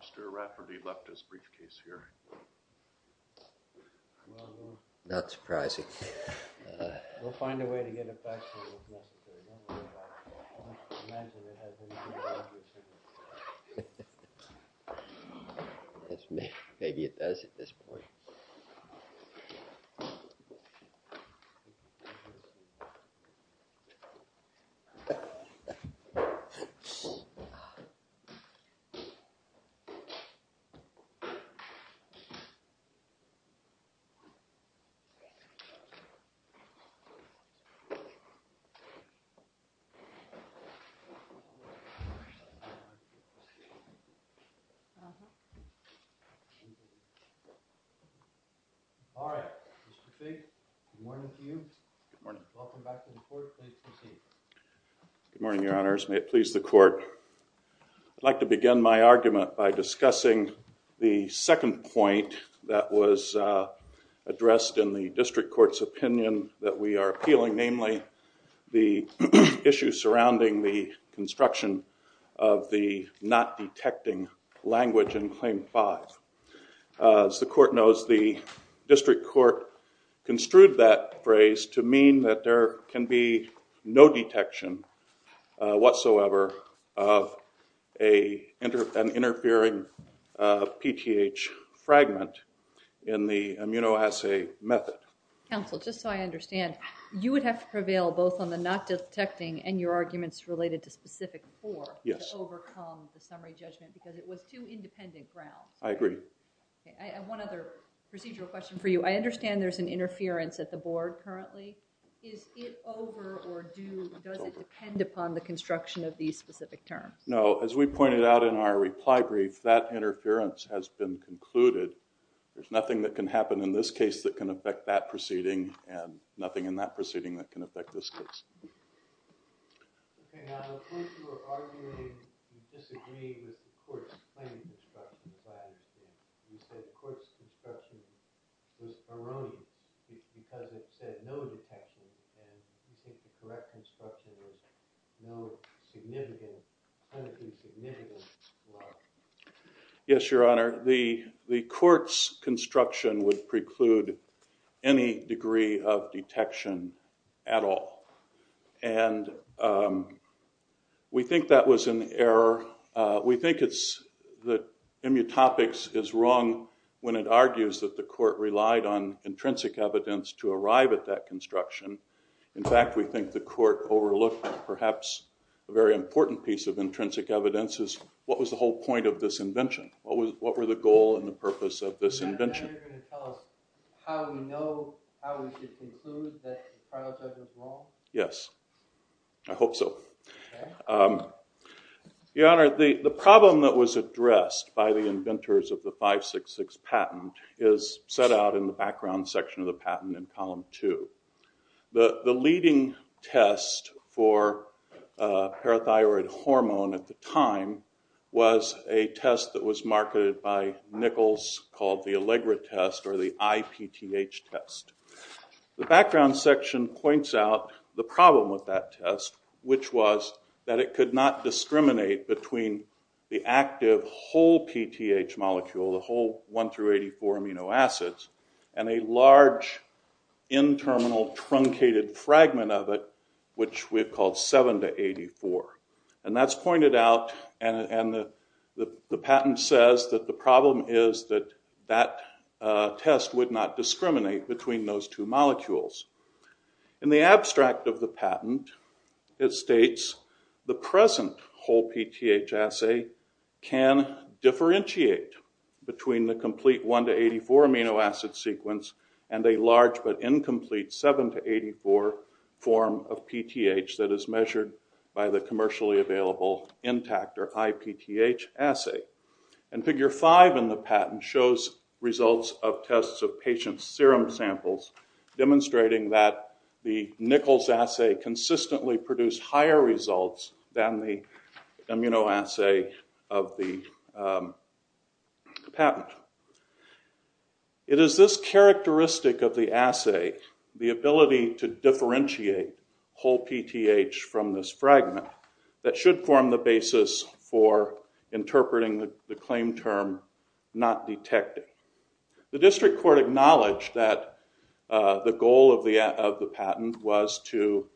Mr. Rafferty left his briefcase here. Not surprising. We'll find a way to get it back. Maybe it does at this point. Good morning, your honors, may it please the court. I'd like to begin my argument by discussing the second point that was addressed in the district court's opinion that we are appealing, namely the issue surrounding the construction of the not detecting language in claim five. As the court knows, the district court construed that phrase to mean that there can be no detection whatsoever of an interfering PTH fragment in the immunoassay method. Counsel, just so I understand, you would have to prevail both on the not detecting and your arguments related to specific four to overcome the summary judgment because it was two independent grounds. I agree. I have one other procedural question for you. I understand there's an interference at the board currently. Is it over or does it depend upon the construction of these specific terms? No, as we pointed out in our reply brief, that interference has been concluded. There's nothing that can happen in this case that can affect that proceeding and nothing in that proceeding that can affect this case. Okay, now of course you are arguing and disagreeing with the court's claim construction. You said the court's construction was alone because it said no detection and you said the correct construction was no significant, kind of insignificant. Yes, Your Honor. The court's construction would preclude any degree of detection at all. And we think that was an error. We think that immutopics is wrong when it argues that the court relied on intrinsic evidence to arrive at that construction. In fact, we think the court overlooked perhaps a very important piece of intrinsic evidence. What was the whole point of this invention? What were the goal and the purpose of this invention? Are you going to tell us how we know, how we should conclude that the project was wrong? Yes, I hope so. Your Honor, the problem that was addressed by the inventors of the 566 patent is set out in the background section of the patent in column two. The leading test for parathyroid hormone at the time was a test that was marketed by Nichols called the Allegra test or the IPTH test. The background section points out the problem with that test, which was that it could not discriminate between the active whole PTH molecule, the whole 1 through 84 amino acids, and a large, in-terminal, truncated fragment of it, which we've called 7 to 84. And that's pointed out, and the patent says that the problem is that that test would not discriminate between those two molecules. In the abstract of the patent, it states the present whole PTH assay can differentiate between the complete 1 to 84 amino acid sequence and a large but incomplete 7 to 84 form of PTH that is measured by the commercially available intact or IPTH assay. And figure five in the patent shows results of tests of patient's serum samples, demonstrating that the Nichols assay consistently produced higher results than the amino assay of the patent. It is this characteristic of the assay, the ability to differentiate whole PTH from this fragment, that should form the basis for interpreting the claim term not detected. The district court acknowledged that the goal of the patent was to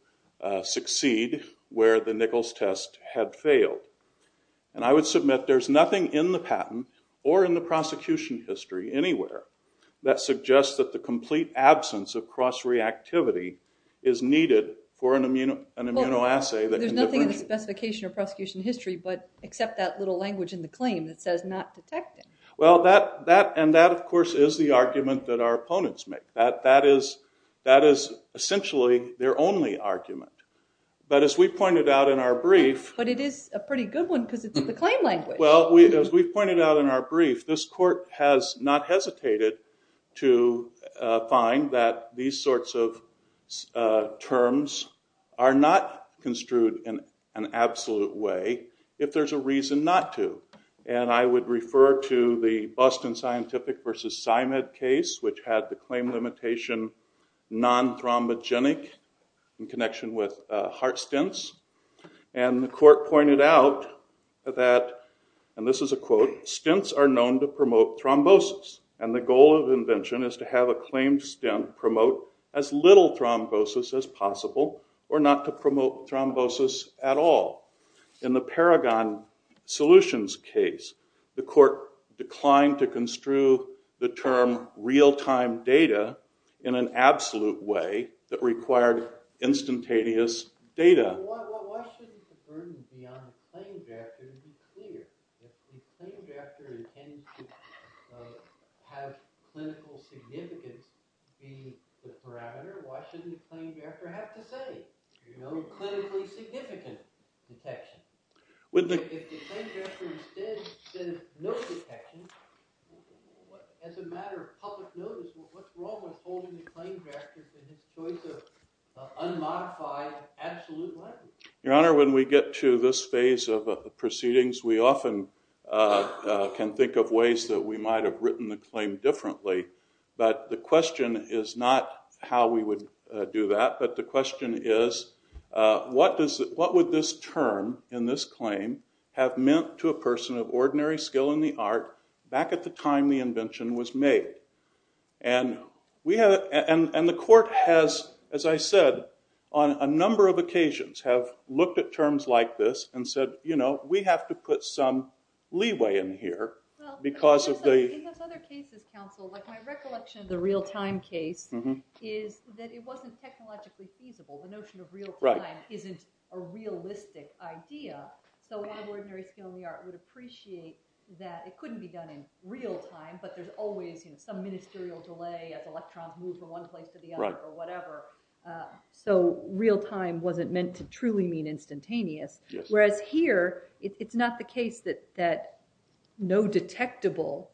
succeed where the Nichols test had failed. And I would submit there's nothing in the patent, or in the prosecution history anywhere, that suggests that the complete absence of cross-reactivity is needed for an amino assay that can differentiate. There's nothing in the specification or prosecution history except that little language in the claim that says not detected. Well, that, and that of course is the argument that our opponents make. That is essentially their only argument. But as we pointed out in our brief... But it is a pretty good one because it's the claim language. Well, as we pointed out in our brief, this court has not hesitated to find that these sorts of terms are not construed in an absolute way, if there's a reason not to. And I would refer to the Buston Scientific versus Simon case, which had the claim limitation non-thrombogenic in connection with heart stents. And the court pointed out that, and this is a quote, stents are known to promote thrombosis, and the goal of invention is to have a claimed stent promote as little thrombosis as possible, or not to promote thrombosis at all. In the Paragon Solutions case, the court declined to construe the term real-time data in an absolute way that required instantaneous data. So why shouldn't the burden be on the claim drafter to be clear? If the claim drafter intends to have clinical significance be the parameter, why shouldn't the claim drafter have to say, you know, clinically significant detection? If the claim drafter instead says no detection, as a matter of public notice, what's wrong with holding the claim drafter to the choice of unmodified absolute legend? Your Honor, when we get to this phase of the proceedings, we often can think of ways that we might have written the claim differently. But the question is not how we would do that, but the question is what would this term in this claim have meant to a person of ordinary skill in the art, back at the time the invention was made. And the court has, as I said, on a number of occasions, have looked at terms like this and said, you know, we have to put some leeway in here because of the... In those other cases, counsel, like my recollection of the real-time case is that it wasn't technologically feasible. The notion of real-time isn't a realistic idea. So an ordinary skill in the art would appreciate that it couldn't be done in real-time, but there's always some ministerial delay as electrons move from one place to the other or whatever. So real-time wasn't meant to truly mean instantaneous. Whereas here, it's not the case that no detectable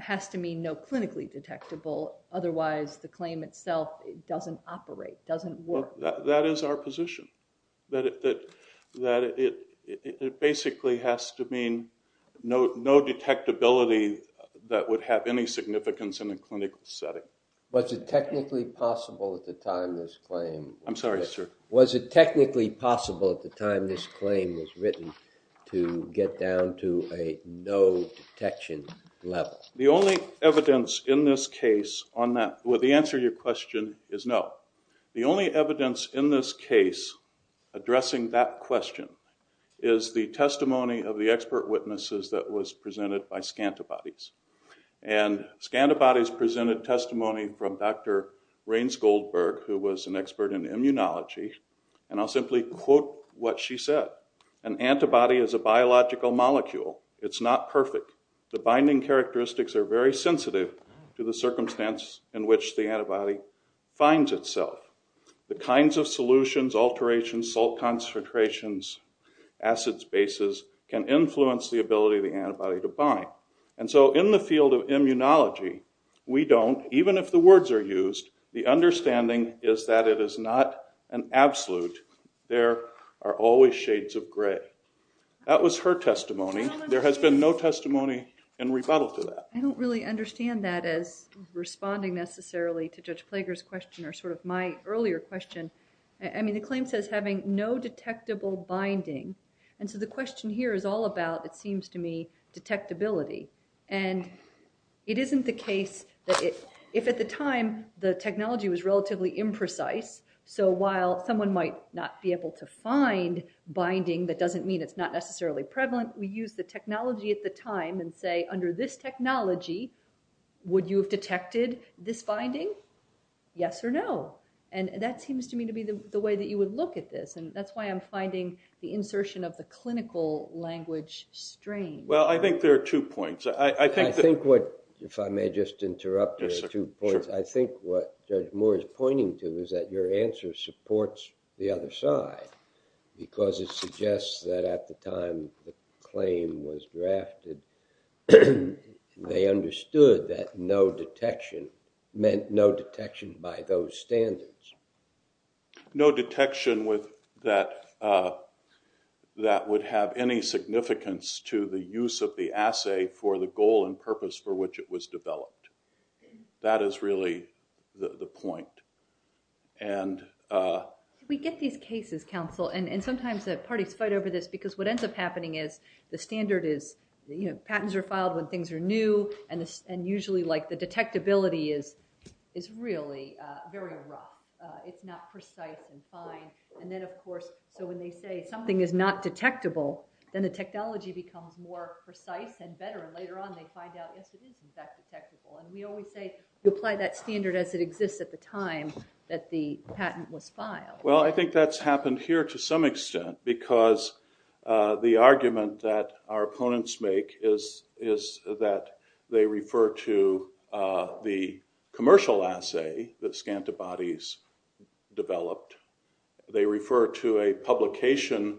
has to mean no clinically detectable, otherwise the claim itself doesn't operate, doesn't work. So that is our position, that it basically has to mean no detectability that would have any significance in a clinical setting. Was it technically possible at the time this claim... I'm sorry, sir. Was it technically possible at the time this claim was written to get down to a no detection level? The only evidence in this case on that... Well, the answer to your question is no. The only evidence in this case addressing that question is the testimony of the expert witnesses that was presented by scantibodies. And scantibodies presented testimony from Dr. Raines-Goldberg, who was an expert in immunology, and I'll simply quote what she said. An antibody is a biological molecule. It's not perfect. The binding characteristics are very sensitive to the circumstance in which the antibody finds itself. The kinds of solutions, alterations, salt concentrations, acids, bases, can influence the ability of the antibody to bind. And so in the field of immunology, we don't, even if the words are used, the understanding is that it is not an absolute. There are always shades of gray. That was her testimony. There has been no testimony in rebuttal to that. I don't really understand that as responding necessarily to Judge Plager's question or sort of my earlier question. I mean, the claim says having no detectable binding. And so the question here is all about, it seems to me, detectability. And it isn't the case that if at the time the technology was relatively imprecise, so while someone might not be able to find binding, that doesn't mean it's not necessarily prevalent. We use the technology at the time and say, under this technology, would you have detected this binding? Yes or no? And that seems to me to be the way that you would look at this. And that's why I'm finding the insertion of the clinical language strange. Well, I think there are two points. I think what, if I may just interrupt, there are two points. I think what Judge Moore is pointing to is that your answer supports the other side because it suggests that at the time the claim was drafted, they understood that no detection meant no detection by those standards. No detection that would have any significance to the use of the assay for the goal and purpose for which it was developed. That is really the point. We get these cases, counsel, and sometimes the parties fight over this because what ends up happening is the standard is, you know, patents are filed when things are new, and usually, like, the detectability is really very rough. It's not precise and fine. And then, of course, so when they say something is not detectable, then the technology becomes more precise and better, and later on they find out, yes, it is, in fact, detectable. And we always say you apply that standard as it exists at the time that the patent was filed. Well, I think that's happened here to some extent because the argument that our opponents make is that they refer to the commercial assay that Scantabody's developed. They refer to a publication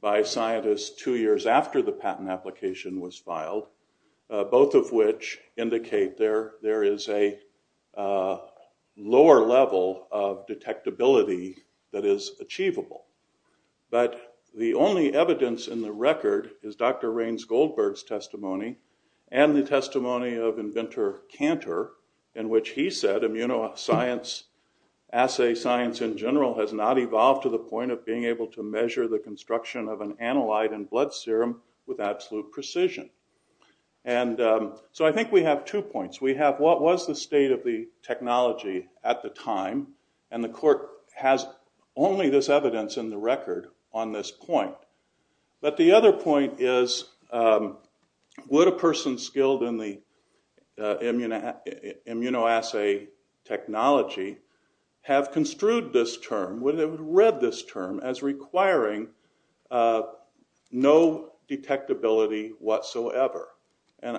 by scientists two years after the patent application was filed, both of which indicate there is a lower level of detectability that is achievable. But the only evidence in the record is Dr. Raines Goldberg's testimony and the testimony of inventor Cantor in which he said immunoassay science in general has not evolved to the point of being able to measure the construction of an analyte in blood serum with absolute precision. And so I think we have two points. We have what was the state of the technology at the time, and the court has only this evidence in the record on this point. But the other point is would a person skilled in the immunoassay technology have construed this term, would have read this term as requiring no detectability whatsoever? And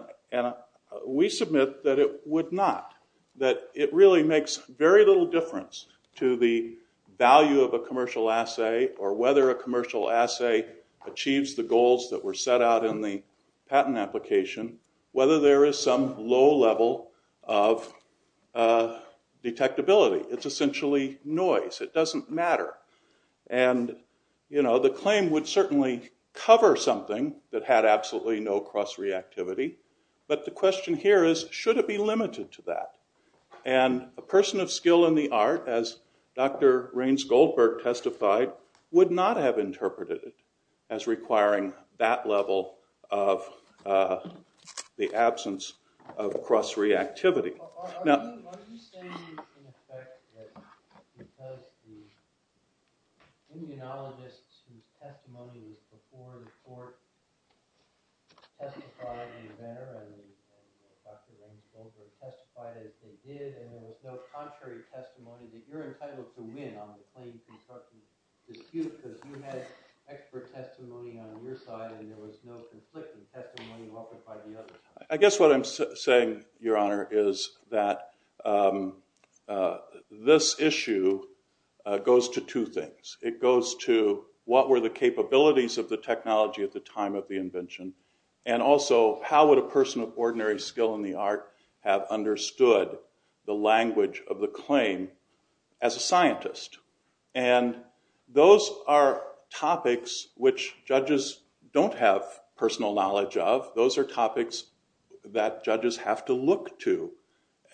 we submit that it would not. That it really makes very little difference to the value of a commercial assay or whether a commercial assay achieves the goals that were set out in the patent application, whether there is some low level of detectability. It's essentially noise. It doesn't matter. And, you know, the claim would certainly cover something that had absolutely no cross-reactivity, but the question here is should it be limited to that? And a person of skill in the art, as Dr. Raines Goldberg testified, would not have interpreted it as requiring that level of the absence of cross-reactivity. Are you saying, in effect, that because the immunologists whose testimony was before the court testified in there, and Dr. Raines Goldberg testified as they did, and there was no contrary testimony, that you're entitled to win on the claim construction dispute because you had expert testimony on your side and there was no conflicting testimony welcomed by the other side? I guess what I'm saying, Your Honor, is that this issue goes to two things. It goes to what were the capabilities of the technology at the time of the invention and also how would a person of ordinary skill in the art have understood the language of the claim as a scientist? And those are topics which judges don't have personal knowledge of. Those are topics that judges have to look to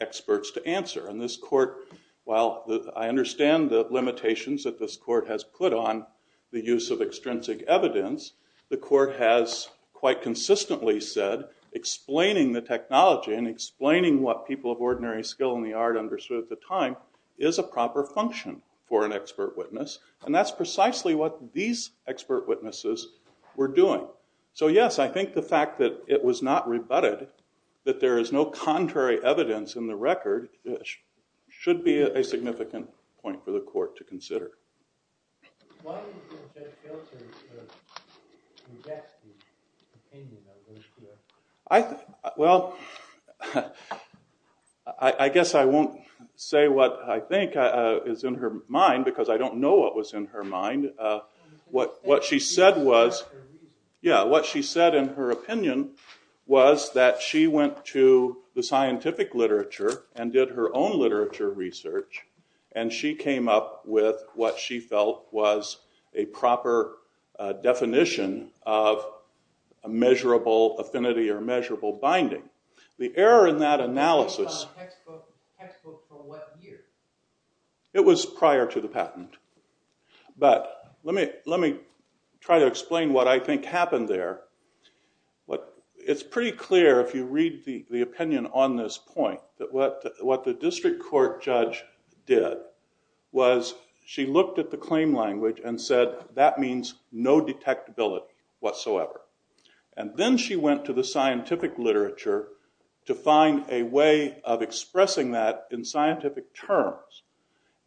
experts to answer. And this court, while I understand the limitations that this court has put on the use of extrinsic evidence, the court has quite consistently said explaining the technology and explaining what people of ordinary skill in the art understood at the time is a proper function for an expert witness. And that's precisely what these expert witnesses were doing. So, yes, I think the fact that it was not rebutted, that there is no contrary evidence in the record, should be a significant point for the court to consider. Why do you think Judge Gelser rejects the opinion of this court? Well, I guess I won't say what I think is in her mind because I don't know what was in her mind. What she said was, yeah, what she said in her opinion was that she went to the scientific literature and did her own literature research and she came up with what she felt was a proper definition of measurable affinity or measurable binding. The error in that analysis... Textbook for what year? It was prior to the patent. But let me try to explain what I think happened there. It's pretty clear if you read the opinion on this point that what the district court judge did was she looked at the claim language and said that means no detectability whatsoever. And then she went to the scientific literature to find a way of expressing that in scientific terms.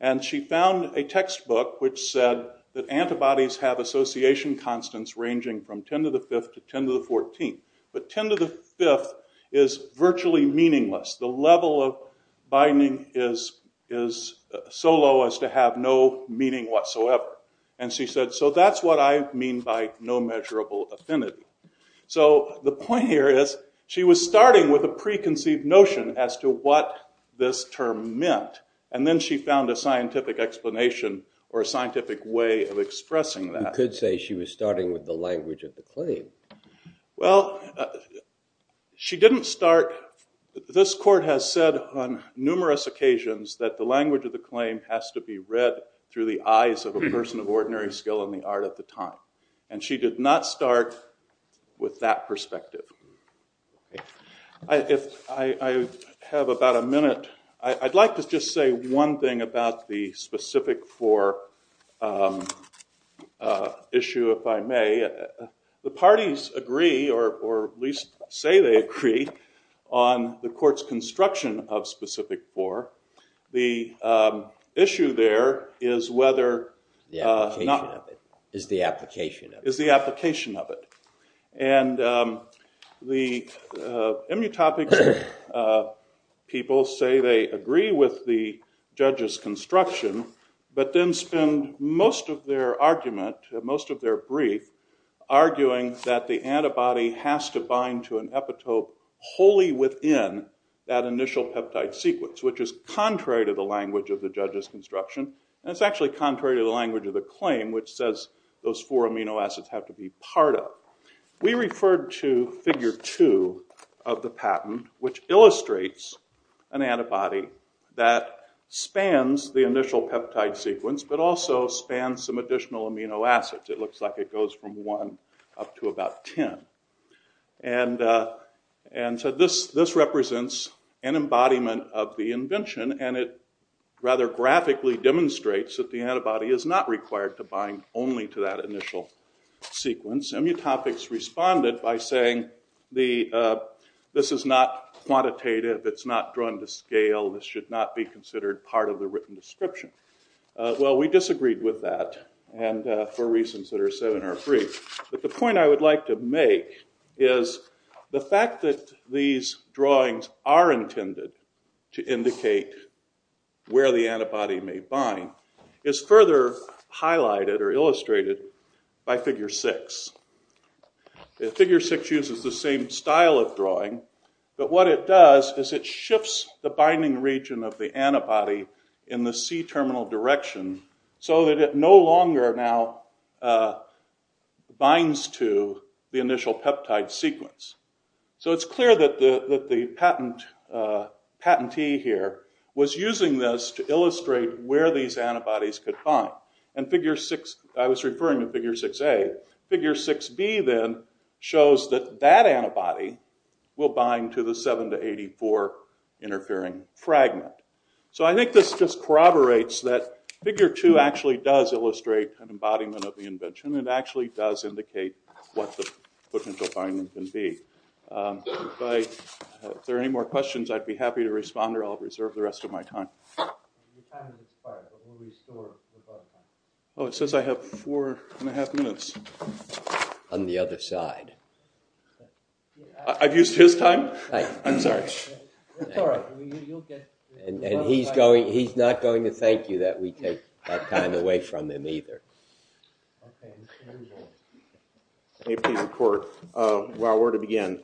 And she found a textbook which said that antibodies have association constants ranging from 10 to the 5th to 10 to the 14th. But 10 to the 5th is virtually meaningless. The level of binding is so low as to have no meaning whatsoever. And she said, so that's what I mean by no measurable affinity. So the point here is she was starting with a preconceived notion as to what this term meant. And then she found a scientific explanation or a scientific way of expressing that. You could say she was starting with the language of the claim. Well, she didn't start... This court has said on numerous occasions that the language of the claim has to be read through the eyes of a person of ordinary skill in the art at the time. And she did not start with that perspective. I have about a minute. I'd like to just say one thing about the Specific Four issue, if I may. The parties agree or at least say they agree on the court's construction of Specific Four. The issue there is whether... The application of it. Is the application of it. Is the application of it. And the immutopic people say they agree with the judge's construction, but then spend most of their argument, most of their brief, arguing that the antibody has to bind to an epitope wholly within that initial peptide sequence, which is contrary to the language of the judge's construction. And it's actually contrary to the language of the claim, which says those four amino acids have to be part of. We referred to figure two of the patent, which illustrates an antibody that spans the initial peptide sequence, but also spans some additional amino acids. It looks like it goes from one up to about 10. And so this represents an embodiment of the invention, and it rather graphically demonstrates that the antibody is not required to bind only to that initial sequence. Immutopics responded by saying this is not quantitative. It's not drawn to scale. This should not be considered part of the written description. Well, we disagreed with that. And for reasons that are said in our brief. But the point I would like to make is the fact that these drawings are intended to indicate where the antibody may bind is further highlighted or illustrated by figure six. Figure six uses the same style of drawing, but what it does is it shifts the binding region of the antibody in the C-terminal direction so that it no longer now binds to the initial peptide sequence. So it's clear that the patentee here was using this to illustrate where these antibodies could bind. And figure six, I was referring to figure 6A. Figure 6B then shows that that antibody will bind to the 7 to 84 interfering fragment. So I think this just corroborates that figure two actually does illustrate an embodiment of the invention. It actually does indicate what the potential binding can be. If there are any more questions, I'd be happy to respond, or I'll reserve the rest of my time. Your time has expired, but we'll restore your time. Oh, it says I have four and a half minutes. On the other side. I've used his time? I'm sorry. It's all right. You'll get it. And he's not going to thank you that we take that time away from him either. May I please report while we're to begin?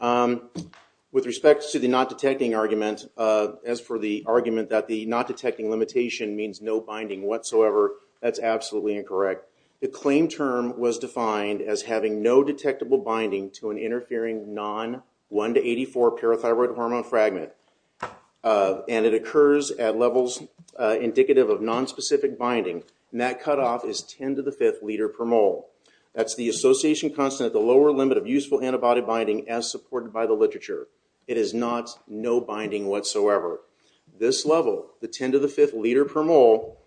With respect to the not-detecting argument, as for the argument that the not-detecting limitation means no binding whatsoever, that's absolutely incorrect. The claim term was defined as having no detectable binding to an interfering non-1 to 84 parathyroid hormone fragment. And it occurs at levels indicative of nonspecific binding. And that cutoff is 10 to the fifth liter per mole. That's the association constant at the lower limit of useful antibody binding as supported by the literature. It is not no binding whatsoever. This level, the 10 to the fifth liter per mole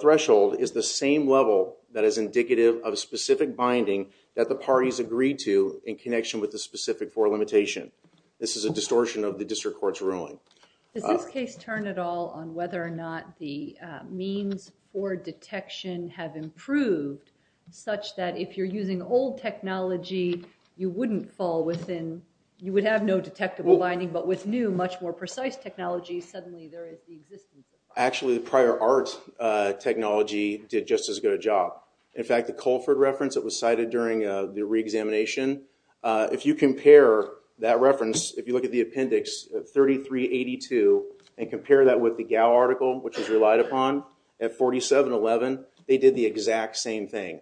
threshold, is the same level that is indicative of specific binding that the parties agreed to in connection with the specific four limitation. This is a distortion of the district court's ruling. Does this case turn at all on whether or not the means for detection have improved such that if you're using old technology, you would have no detectable binding, but with new, much more precise technology, suddenly there is resistance? Actually, the prior art technology did just as good a job. In fact, the Colford reference that was cited during the re-examination, if you compare that reference, if you look at the appendix, 3382, and compare that with the Gao article, which is relied upon, at 4711, they did the exact same thing.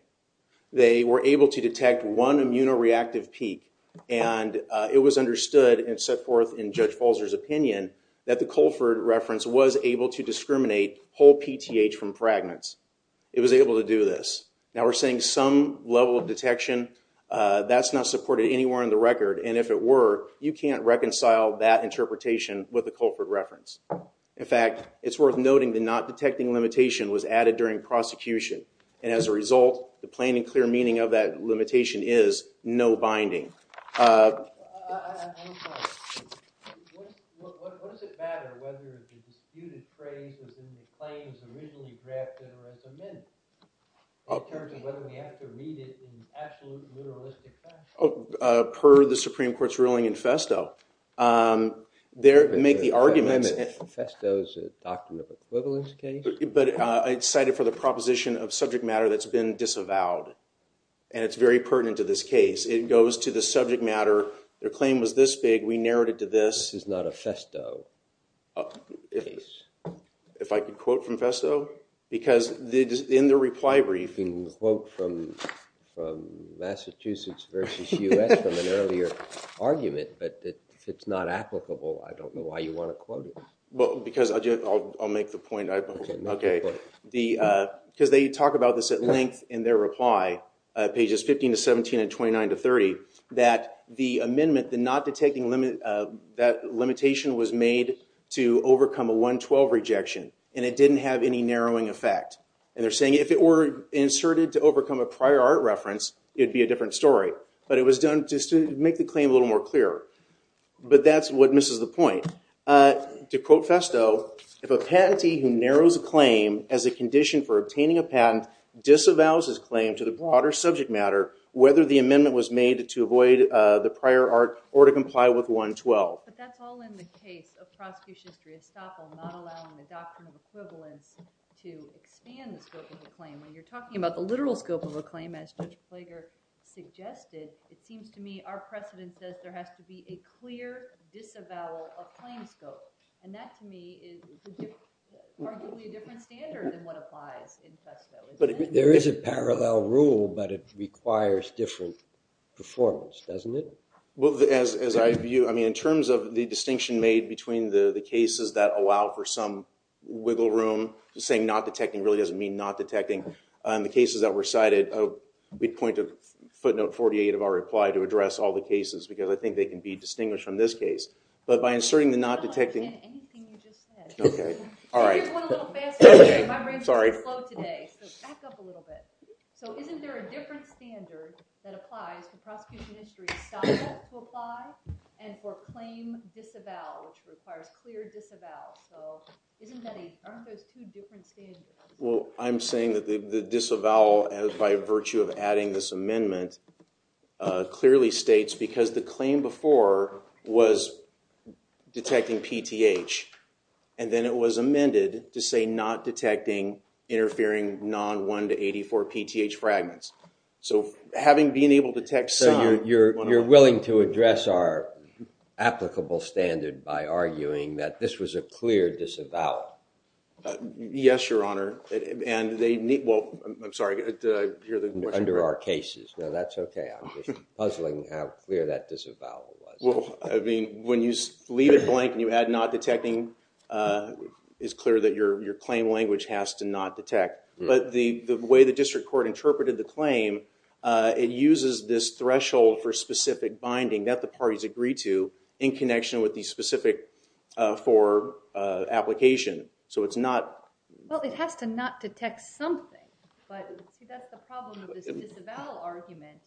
They were able to detect one immunoreactive peak, and it was understood and set forth in Judge Falzer's opinion that the Colford reference was able to discriminate whole PTH from fragments. It was able to do this. Now, we're saying some level of detection, that's not supported anywhere in the record, and if it were, you can't reconcile that interpretation with the Colford reference. In fact, it's worth noting that not detecting limitation was added during prosecution, and as a result, the plain and clear meaning of that limitation is no binding. I have a question. What does it matter whether the disputed phrase is in the claims originally drafted or as amended, in terms of whether we have to read it in absolute literalistic fashion? Per the Supreme Court's ruling in Festo, they make the argument that- Festo is a document of equivalence case? But it's cited for the proposition of subject matter that's been disavowed, and it's very pertinent to this case. It goes to the subject matter. Their claim was this big. We narrowed it to this. This is not a Festo case? If I could quote from Festo? Because in the reply brief- You can quote from Massachusetts versus U.S. from an earlier argument, but if it's not applicable, I don't know why you want to quote it. I'll make the point. Because they talk about this at length in their reply, pages 15 to 17 and 29 to 30, that the amendment, that limitation was made to overcome a 112 rejection, and it didn't have any narrowing effect. And they're saying if it were inserted to overcome a prior art reference, it would be a different story. But it was done just to make the claim a little more clear. But that's what misses the point. To quote Festo, if a patentee who narrows a claim as a condition for obtaining a patent disavows his claim to the broader subject matter, whether the amendment was made to avoid the prior art or to comply with 112. But that's all in the case of prosecution history, estoppel not allowing the doctrine of equivalence to expand the scope of the claim. When you're talking about the literal scope of a claim, as Judge Plager suggested, it seems to me our precedent says there has to be a clear disavowal of claim scope. And that to me is arguably a different standard than what applies in Festo. There is a parallel rule, but it requires different performance, doesn't it? Well, as I view, I mean, in terms of the distinction made between the cases that allow for some wiggle room, saying not detecting really doesn't mean not detecting. In the cases that were cited, we point to footnote 48 of our reply to address all the cases, because I think they can be distinguished from this case. But by inserting the not detecting... I don't understand anything you just said. Here's one a little faster. My brain is a little slow today, so back up a little bit. So isn't there a different standard that applies to prosecution history, estoppel to apply, and for claim disavowal, which requires clear disavowal? So aren't those two different standards? Well, I'm saying that the disavowal, by virtue of adding this amendment, clearly states because the claim before was detecting PTH, and then it was amended to say not detecting interfering non-1 to 84 PTH fragments. So having been able to detect some... So you're willing to address our applicable standard by arguing that this was a clear disavowal? Yes, Your Honor. And they need... Well, I'm sorry. Did I hear the question? Under our cases. No, that's okay. I'm just puzzling how clear that disavowal was. Well, I mean, when you leave it blank and you add not detecting, it's clear that your claim language has to not detect. But the way the district court interpreted the claim, it uses this threshold for specific binding that the parties agree to in connection with the specific for application. So it's not... Well, it has to not detect something, but that's the problem with this disavowal argument.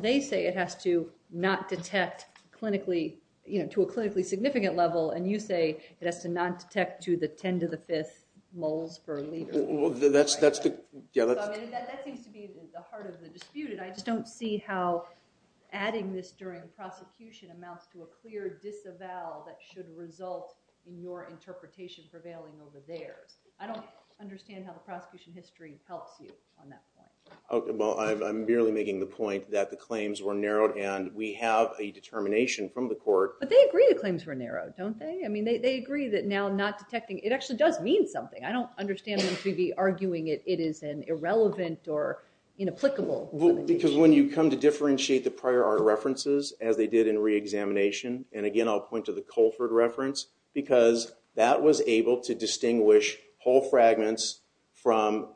They say it has to not detect clinically, you know, to a clinically significant level, and you say it has to not detect to the 10 to the 5th moles per liter. Well, that's the... That seems to be the heart of the dispute, and I just don't see how adding this during prosecution amounts to a clear disavowal that should result in your interpretation prevailing over theirs. I don't understand how the prosecution history helps you on that point. Well, I'm merely making the point that the claims were narrowed, and we have a determination from the court... But they agree the claims were narrowed, don't they? I mean, they agree that now not detecting... It actually does mean something. I don't understand them to be arguing it is an irrelevant or inapplicable determination. Because when you come to differentiate the prior art references, as they did in reexamination, and again, I'll point to the Colford reference, because that was able to distinguish whole fragments from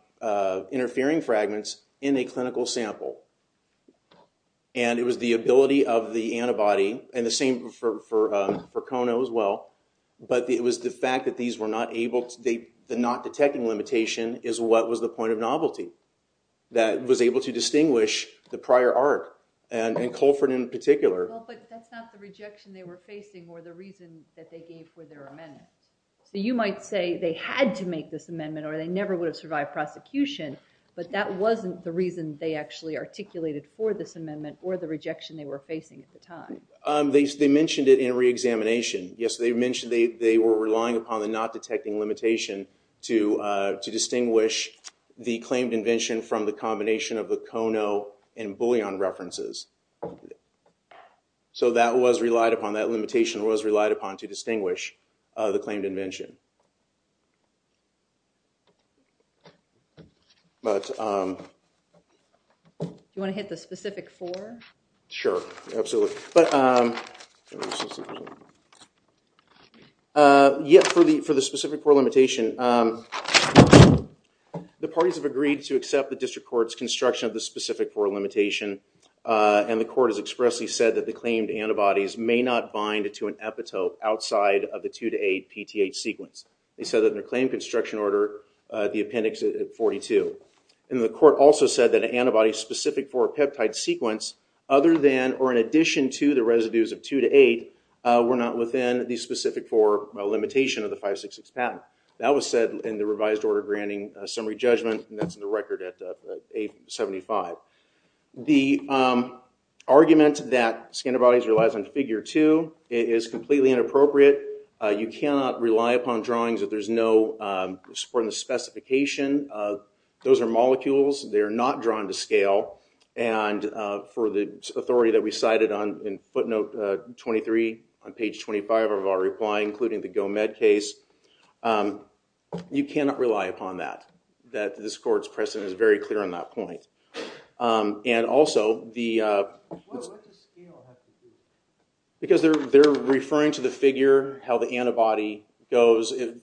interfering fragments in a clinical sample. And it was the ability of the antibody, and the same for Kono as well, but it was the fact that these were not able to... The not detecting limitation is what was the point of novelty that was able to distinguish the prior art, and Colford in particular. Well, but that's not the rejection they were facing or the reason that they gave for their amendment. So you might say they had to make this amendment, or they never would have survived prosecution, but that wasn't the reason they actually articulated for this amendment or the rejection they were facing at the time. They mentioned it in reexamination. Yes, they mentioned they were relying upon the not detecting limitation to distinguish the claimed invention from the combination of the Kono and Bullion references. So that limitation was relied upon to distinguish the claimed invention. Do you want to hit the specific four? Sure, absolutely. Yeah, for the specific four limitation, the parties have agreed to accept the district court's construction of the specific four limitation, and the court has expressly said that the claimed antibodies may not bind to an epitope outside of the two to eight PTH sequence. They said that in their claim construction order, the appendix at 42. And the court also said that an antibody specific for a peptide sequence other than or in addition to the residues of two to eight were not within the specific four limitation of the 566 patent. That was said in the revised order granting summary judgment, and that's in the record at 875. The argument that scan antibodies relies on figure two is completely inappropriate. You cannot rely upon drawings if there's no support in the specification. Those are molecules. They're not drawn to scale. And for the authority that we cited in footnote 23 on page 25 of our reply, including the GoMed case, you cannot rely upon that. That this court's precedent is very clear on that point. And also, because they're referring to the figure, how the antibody goes, it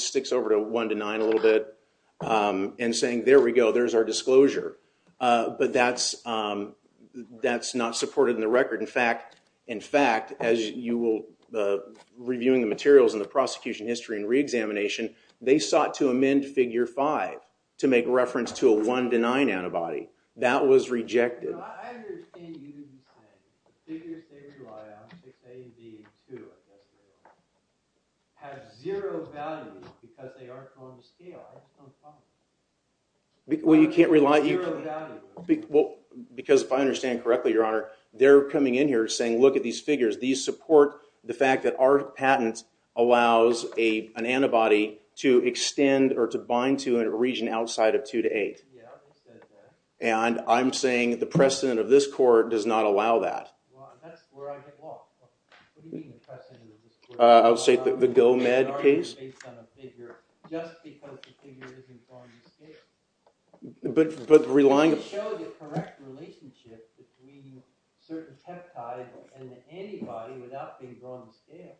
sticks over to one to nine a little bit and saying, there we go, there's our disclosure. But that's not supported in the record. In fact, as you will, reviewing the materials in the prosecution history and reexamination, they sought to amend figure five to make reference to a one to nine antibody. That was rejected. Well, you can't rely. Because if I understand correctly, Your Honor, they're coming in here saying, look at these figures. These support the fact that our patent allows an antibody to extend or to bind to a region outside of two to eight. And I'm saying the precedent of this court does not allow that. I would say the GoMed case. Just because the figure isn't going to scale. It showed the correct relationship between certain peptides and the antibody without things going to scale.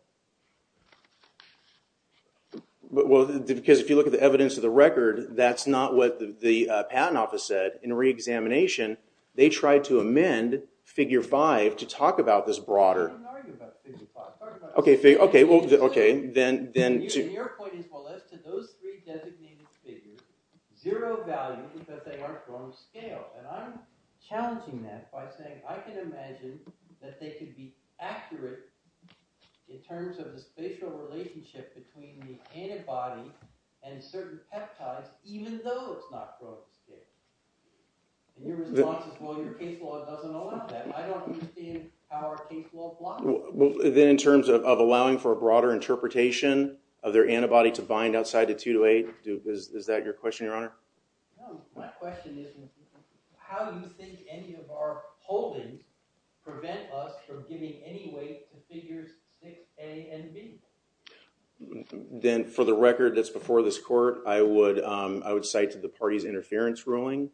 I'm not arguing about figure five. Your point is, well, as to those three designated figures, zero value because they aren't going to scale. And I'm challenging that by saying, I can imagine that they could be accurate in terms of the spatial relationship between the antibody and certain peptides, even though it's not going to scale. And your response is, well, your case law doesn't allow that. I don't understand how our case law blocks that. In terms of allowing for a broader interpretation of their antibody to bind outside the two to eight, Duke, is that your question, Your Honor? No, my question is, how do you think any of our holdings prevent us from giving any weight to figures six, A, and B? Then, for the record that's before this court, I would cite to the party's interference ruling,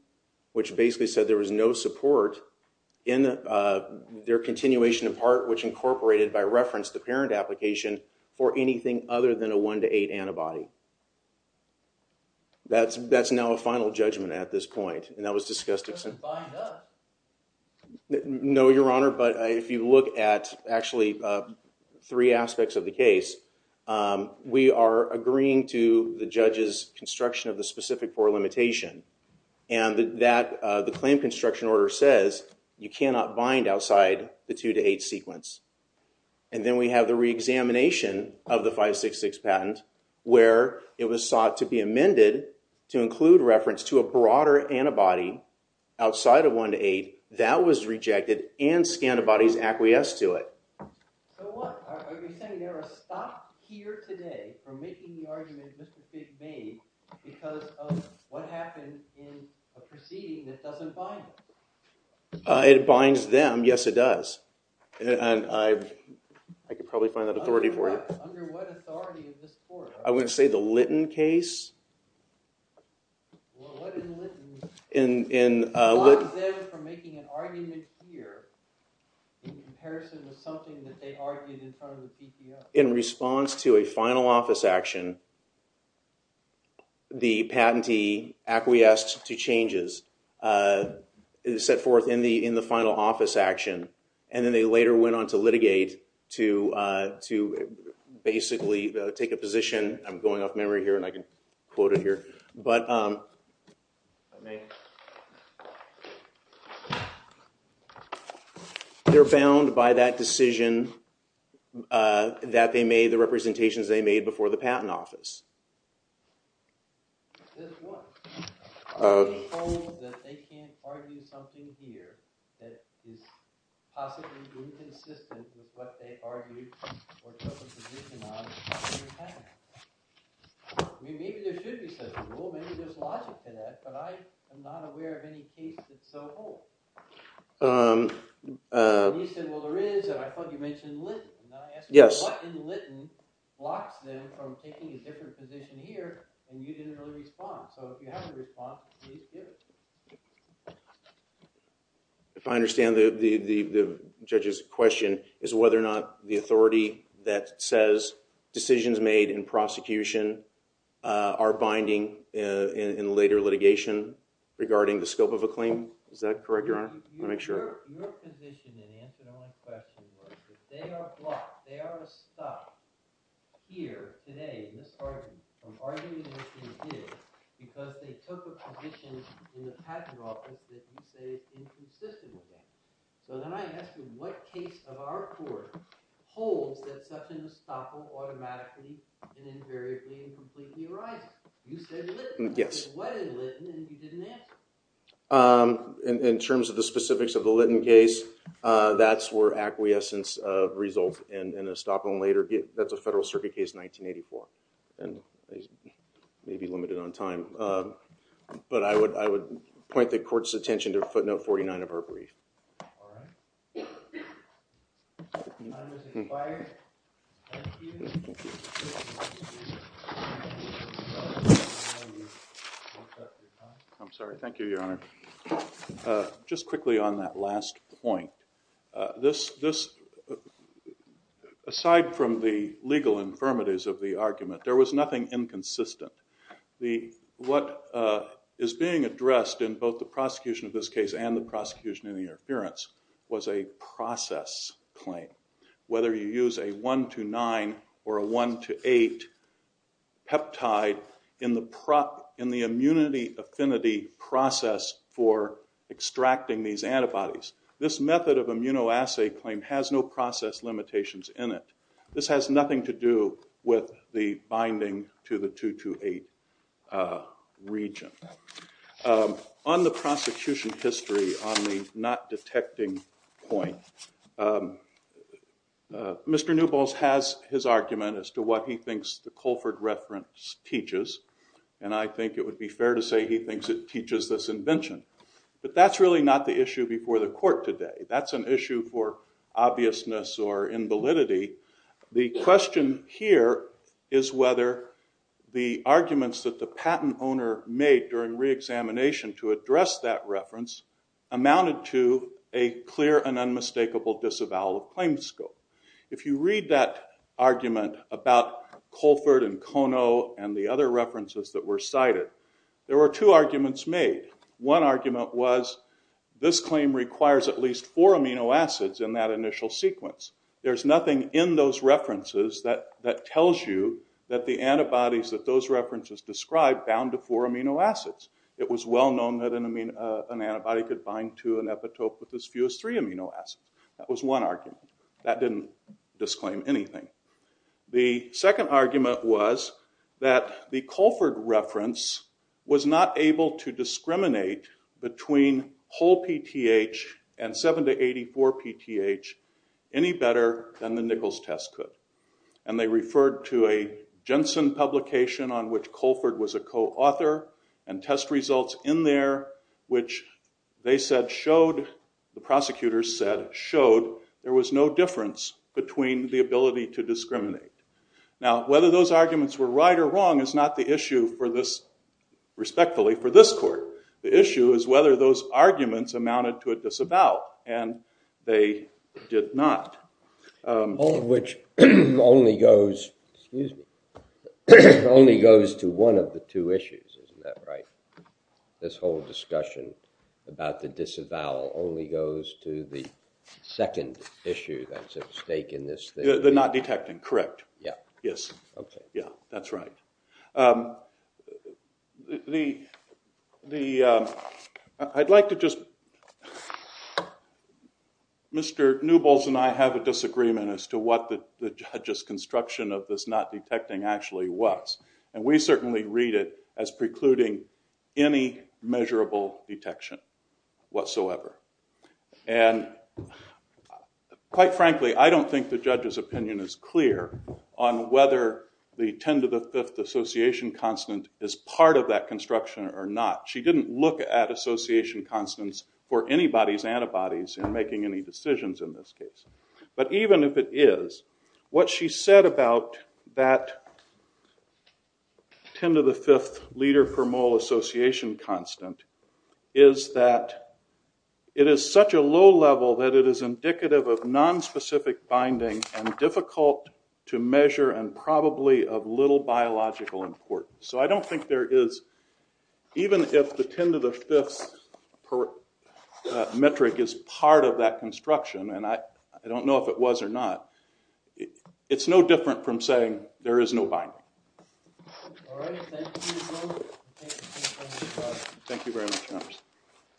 which basically said there was no support in their continuation, in part, which incorporated, by reference, the parent application for anything other than a one to eight antibody. That's now a final judgment at this point. And that was discussed at some point. No, Your Honor. But if you look at, actually, three aspects of the case, we are agreeing to the judge's construction of the specific poor limitation. And the claim construction order says you cannot bind outside the two to eight sequence. And then we have the reexamination of the 566 patent, where it was sought to be amended to include reference to a broader antibody outside of one to eight. That was rejected, and scantibodies acquiesced to it. It binds them. Yes, it does. I could probably find that authority for you. I wouldn't say the Litton case. In response to a final office action, the patentee acquiesced to changes set forth in the final office action. And then they later went on to litigate to basically take a position. I'm going off memory here, and I can quote it here. They're bound by that decision that they made, the representations they made before the patent office. Possibly inconsistent with what they argued or took a position on in the patent. Maybe there should be some rule. Maybe there's logic to that. But I am not aware of any case that's so whole. And you said, well, there is. And I thought you mentioned Litton. And then I asked you, what in Litton blocks them from taking a different position here? And you didn't really respond. So if you have a response, please give it to me. If I understand the judge's question, is whether or not the authority that says decisions made in prosecution are binding in later litigation regarding the scope of a claim? Is that correct, Your Honor? It's inconsistent with that. So then I asked you, what case of our court holds that such an estoppel automatically and invariably and completely arises? You said Litton. What is Litton? And you didn't answer. I'm sorry. Thank you, Your Honor. Just quickly on that last point. Aside from the legal infirmities of the argument, there was nothing inconsistent. What is being addressed in both the prosecution of this case and the prosecution in the interference was a process claim. Whether you use a 1 to 9 or a 1 to 8 peptide in the immunity affinity process for extracting these antibodies. This method of immunoassay claim has no process limitations in it. This has nothing to do with the binding to the 2 to 8 region. On the prosecution history, on the not detecting point, Mr. Newbols has his argument as to what he thinks the Colford reference teaches. And I think it would be fair to say he thinks it teaches this invention. But that's really not the issue before the court today. That's an issue for obviousness or invalidity. The question here is whether the arguments that the patent owner made during reexamination to address that reference amounted to a clear and unmistakable disavowal of claim scope. If you read that argument about Colford and Kono and the other references that were cited, there were two arguments made. One argument was this claim requires at least four amino acids in that initial sequence. There's nothing in those references that tells you that the antibodies that those references describe bound to four amino acids. It was well known that an antibody could bind to an epitope with as few as three amino acids. That was one argument. That didn't disclaim anything. The second argument was that the Colford reference was not able to discriminate between whole PTH and 7 to 84 PTH any better than the Nichols test could. And they referred to a Jensen publication on which Colford was a co-author and test results in there which they said showed, the prosecutors said, showed there was no difference between the ability to discriminate. Now, whether those arguments were right or wrong is not the issue for this, respectfully, for this court. The issue is whether those arguments amounted to a disavowal and they did not. All of which only goes to one of the two issues, isn't that right? This whole discussion about the disavowal only goes to the second issue that's at stake in this thing. The not detecting, correct. Yeah. Yes. Okay. Yeah, that's right. The, I'd like to just, Mr. Newbles and I have a disagreement as to what the judge's construction of this not detecting actually was. And we certainly read it as precluding any measurable detection whatsoever. And quite frankly, I don't think the judge's opinion is clear on whether the 10 to the 5th association constant is part of that construction or not. She didn't look at association constants for anybody's antibodies in making any decisions in this case. But even if it is, what she said about that 10 to the 5th liter per mole association constant is that it is such a low level that it is indicative of nonspecific binding and difficult to measure and probably of little biological importance. So I don't think there is, even if the 10 to the 5th metric is part of that construction. And I don't know if it was or not. It's no different from saying there is no binding. All right. Thank you. Thank you very much.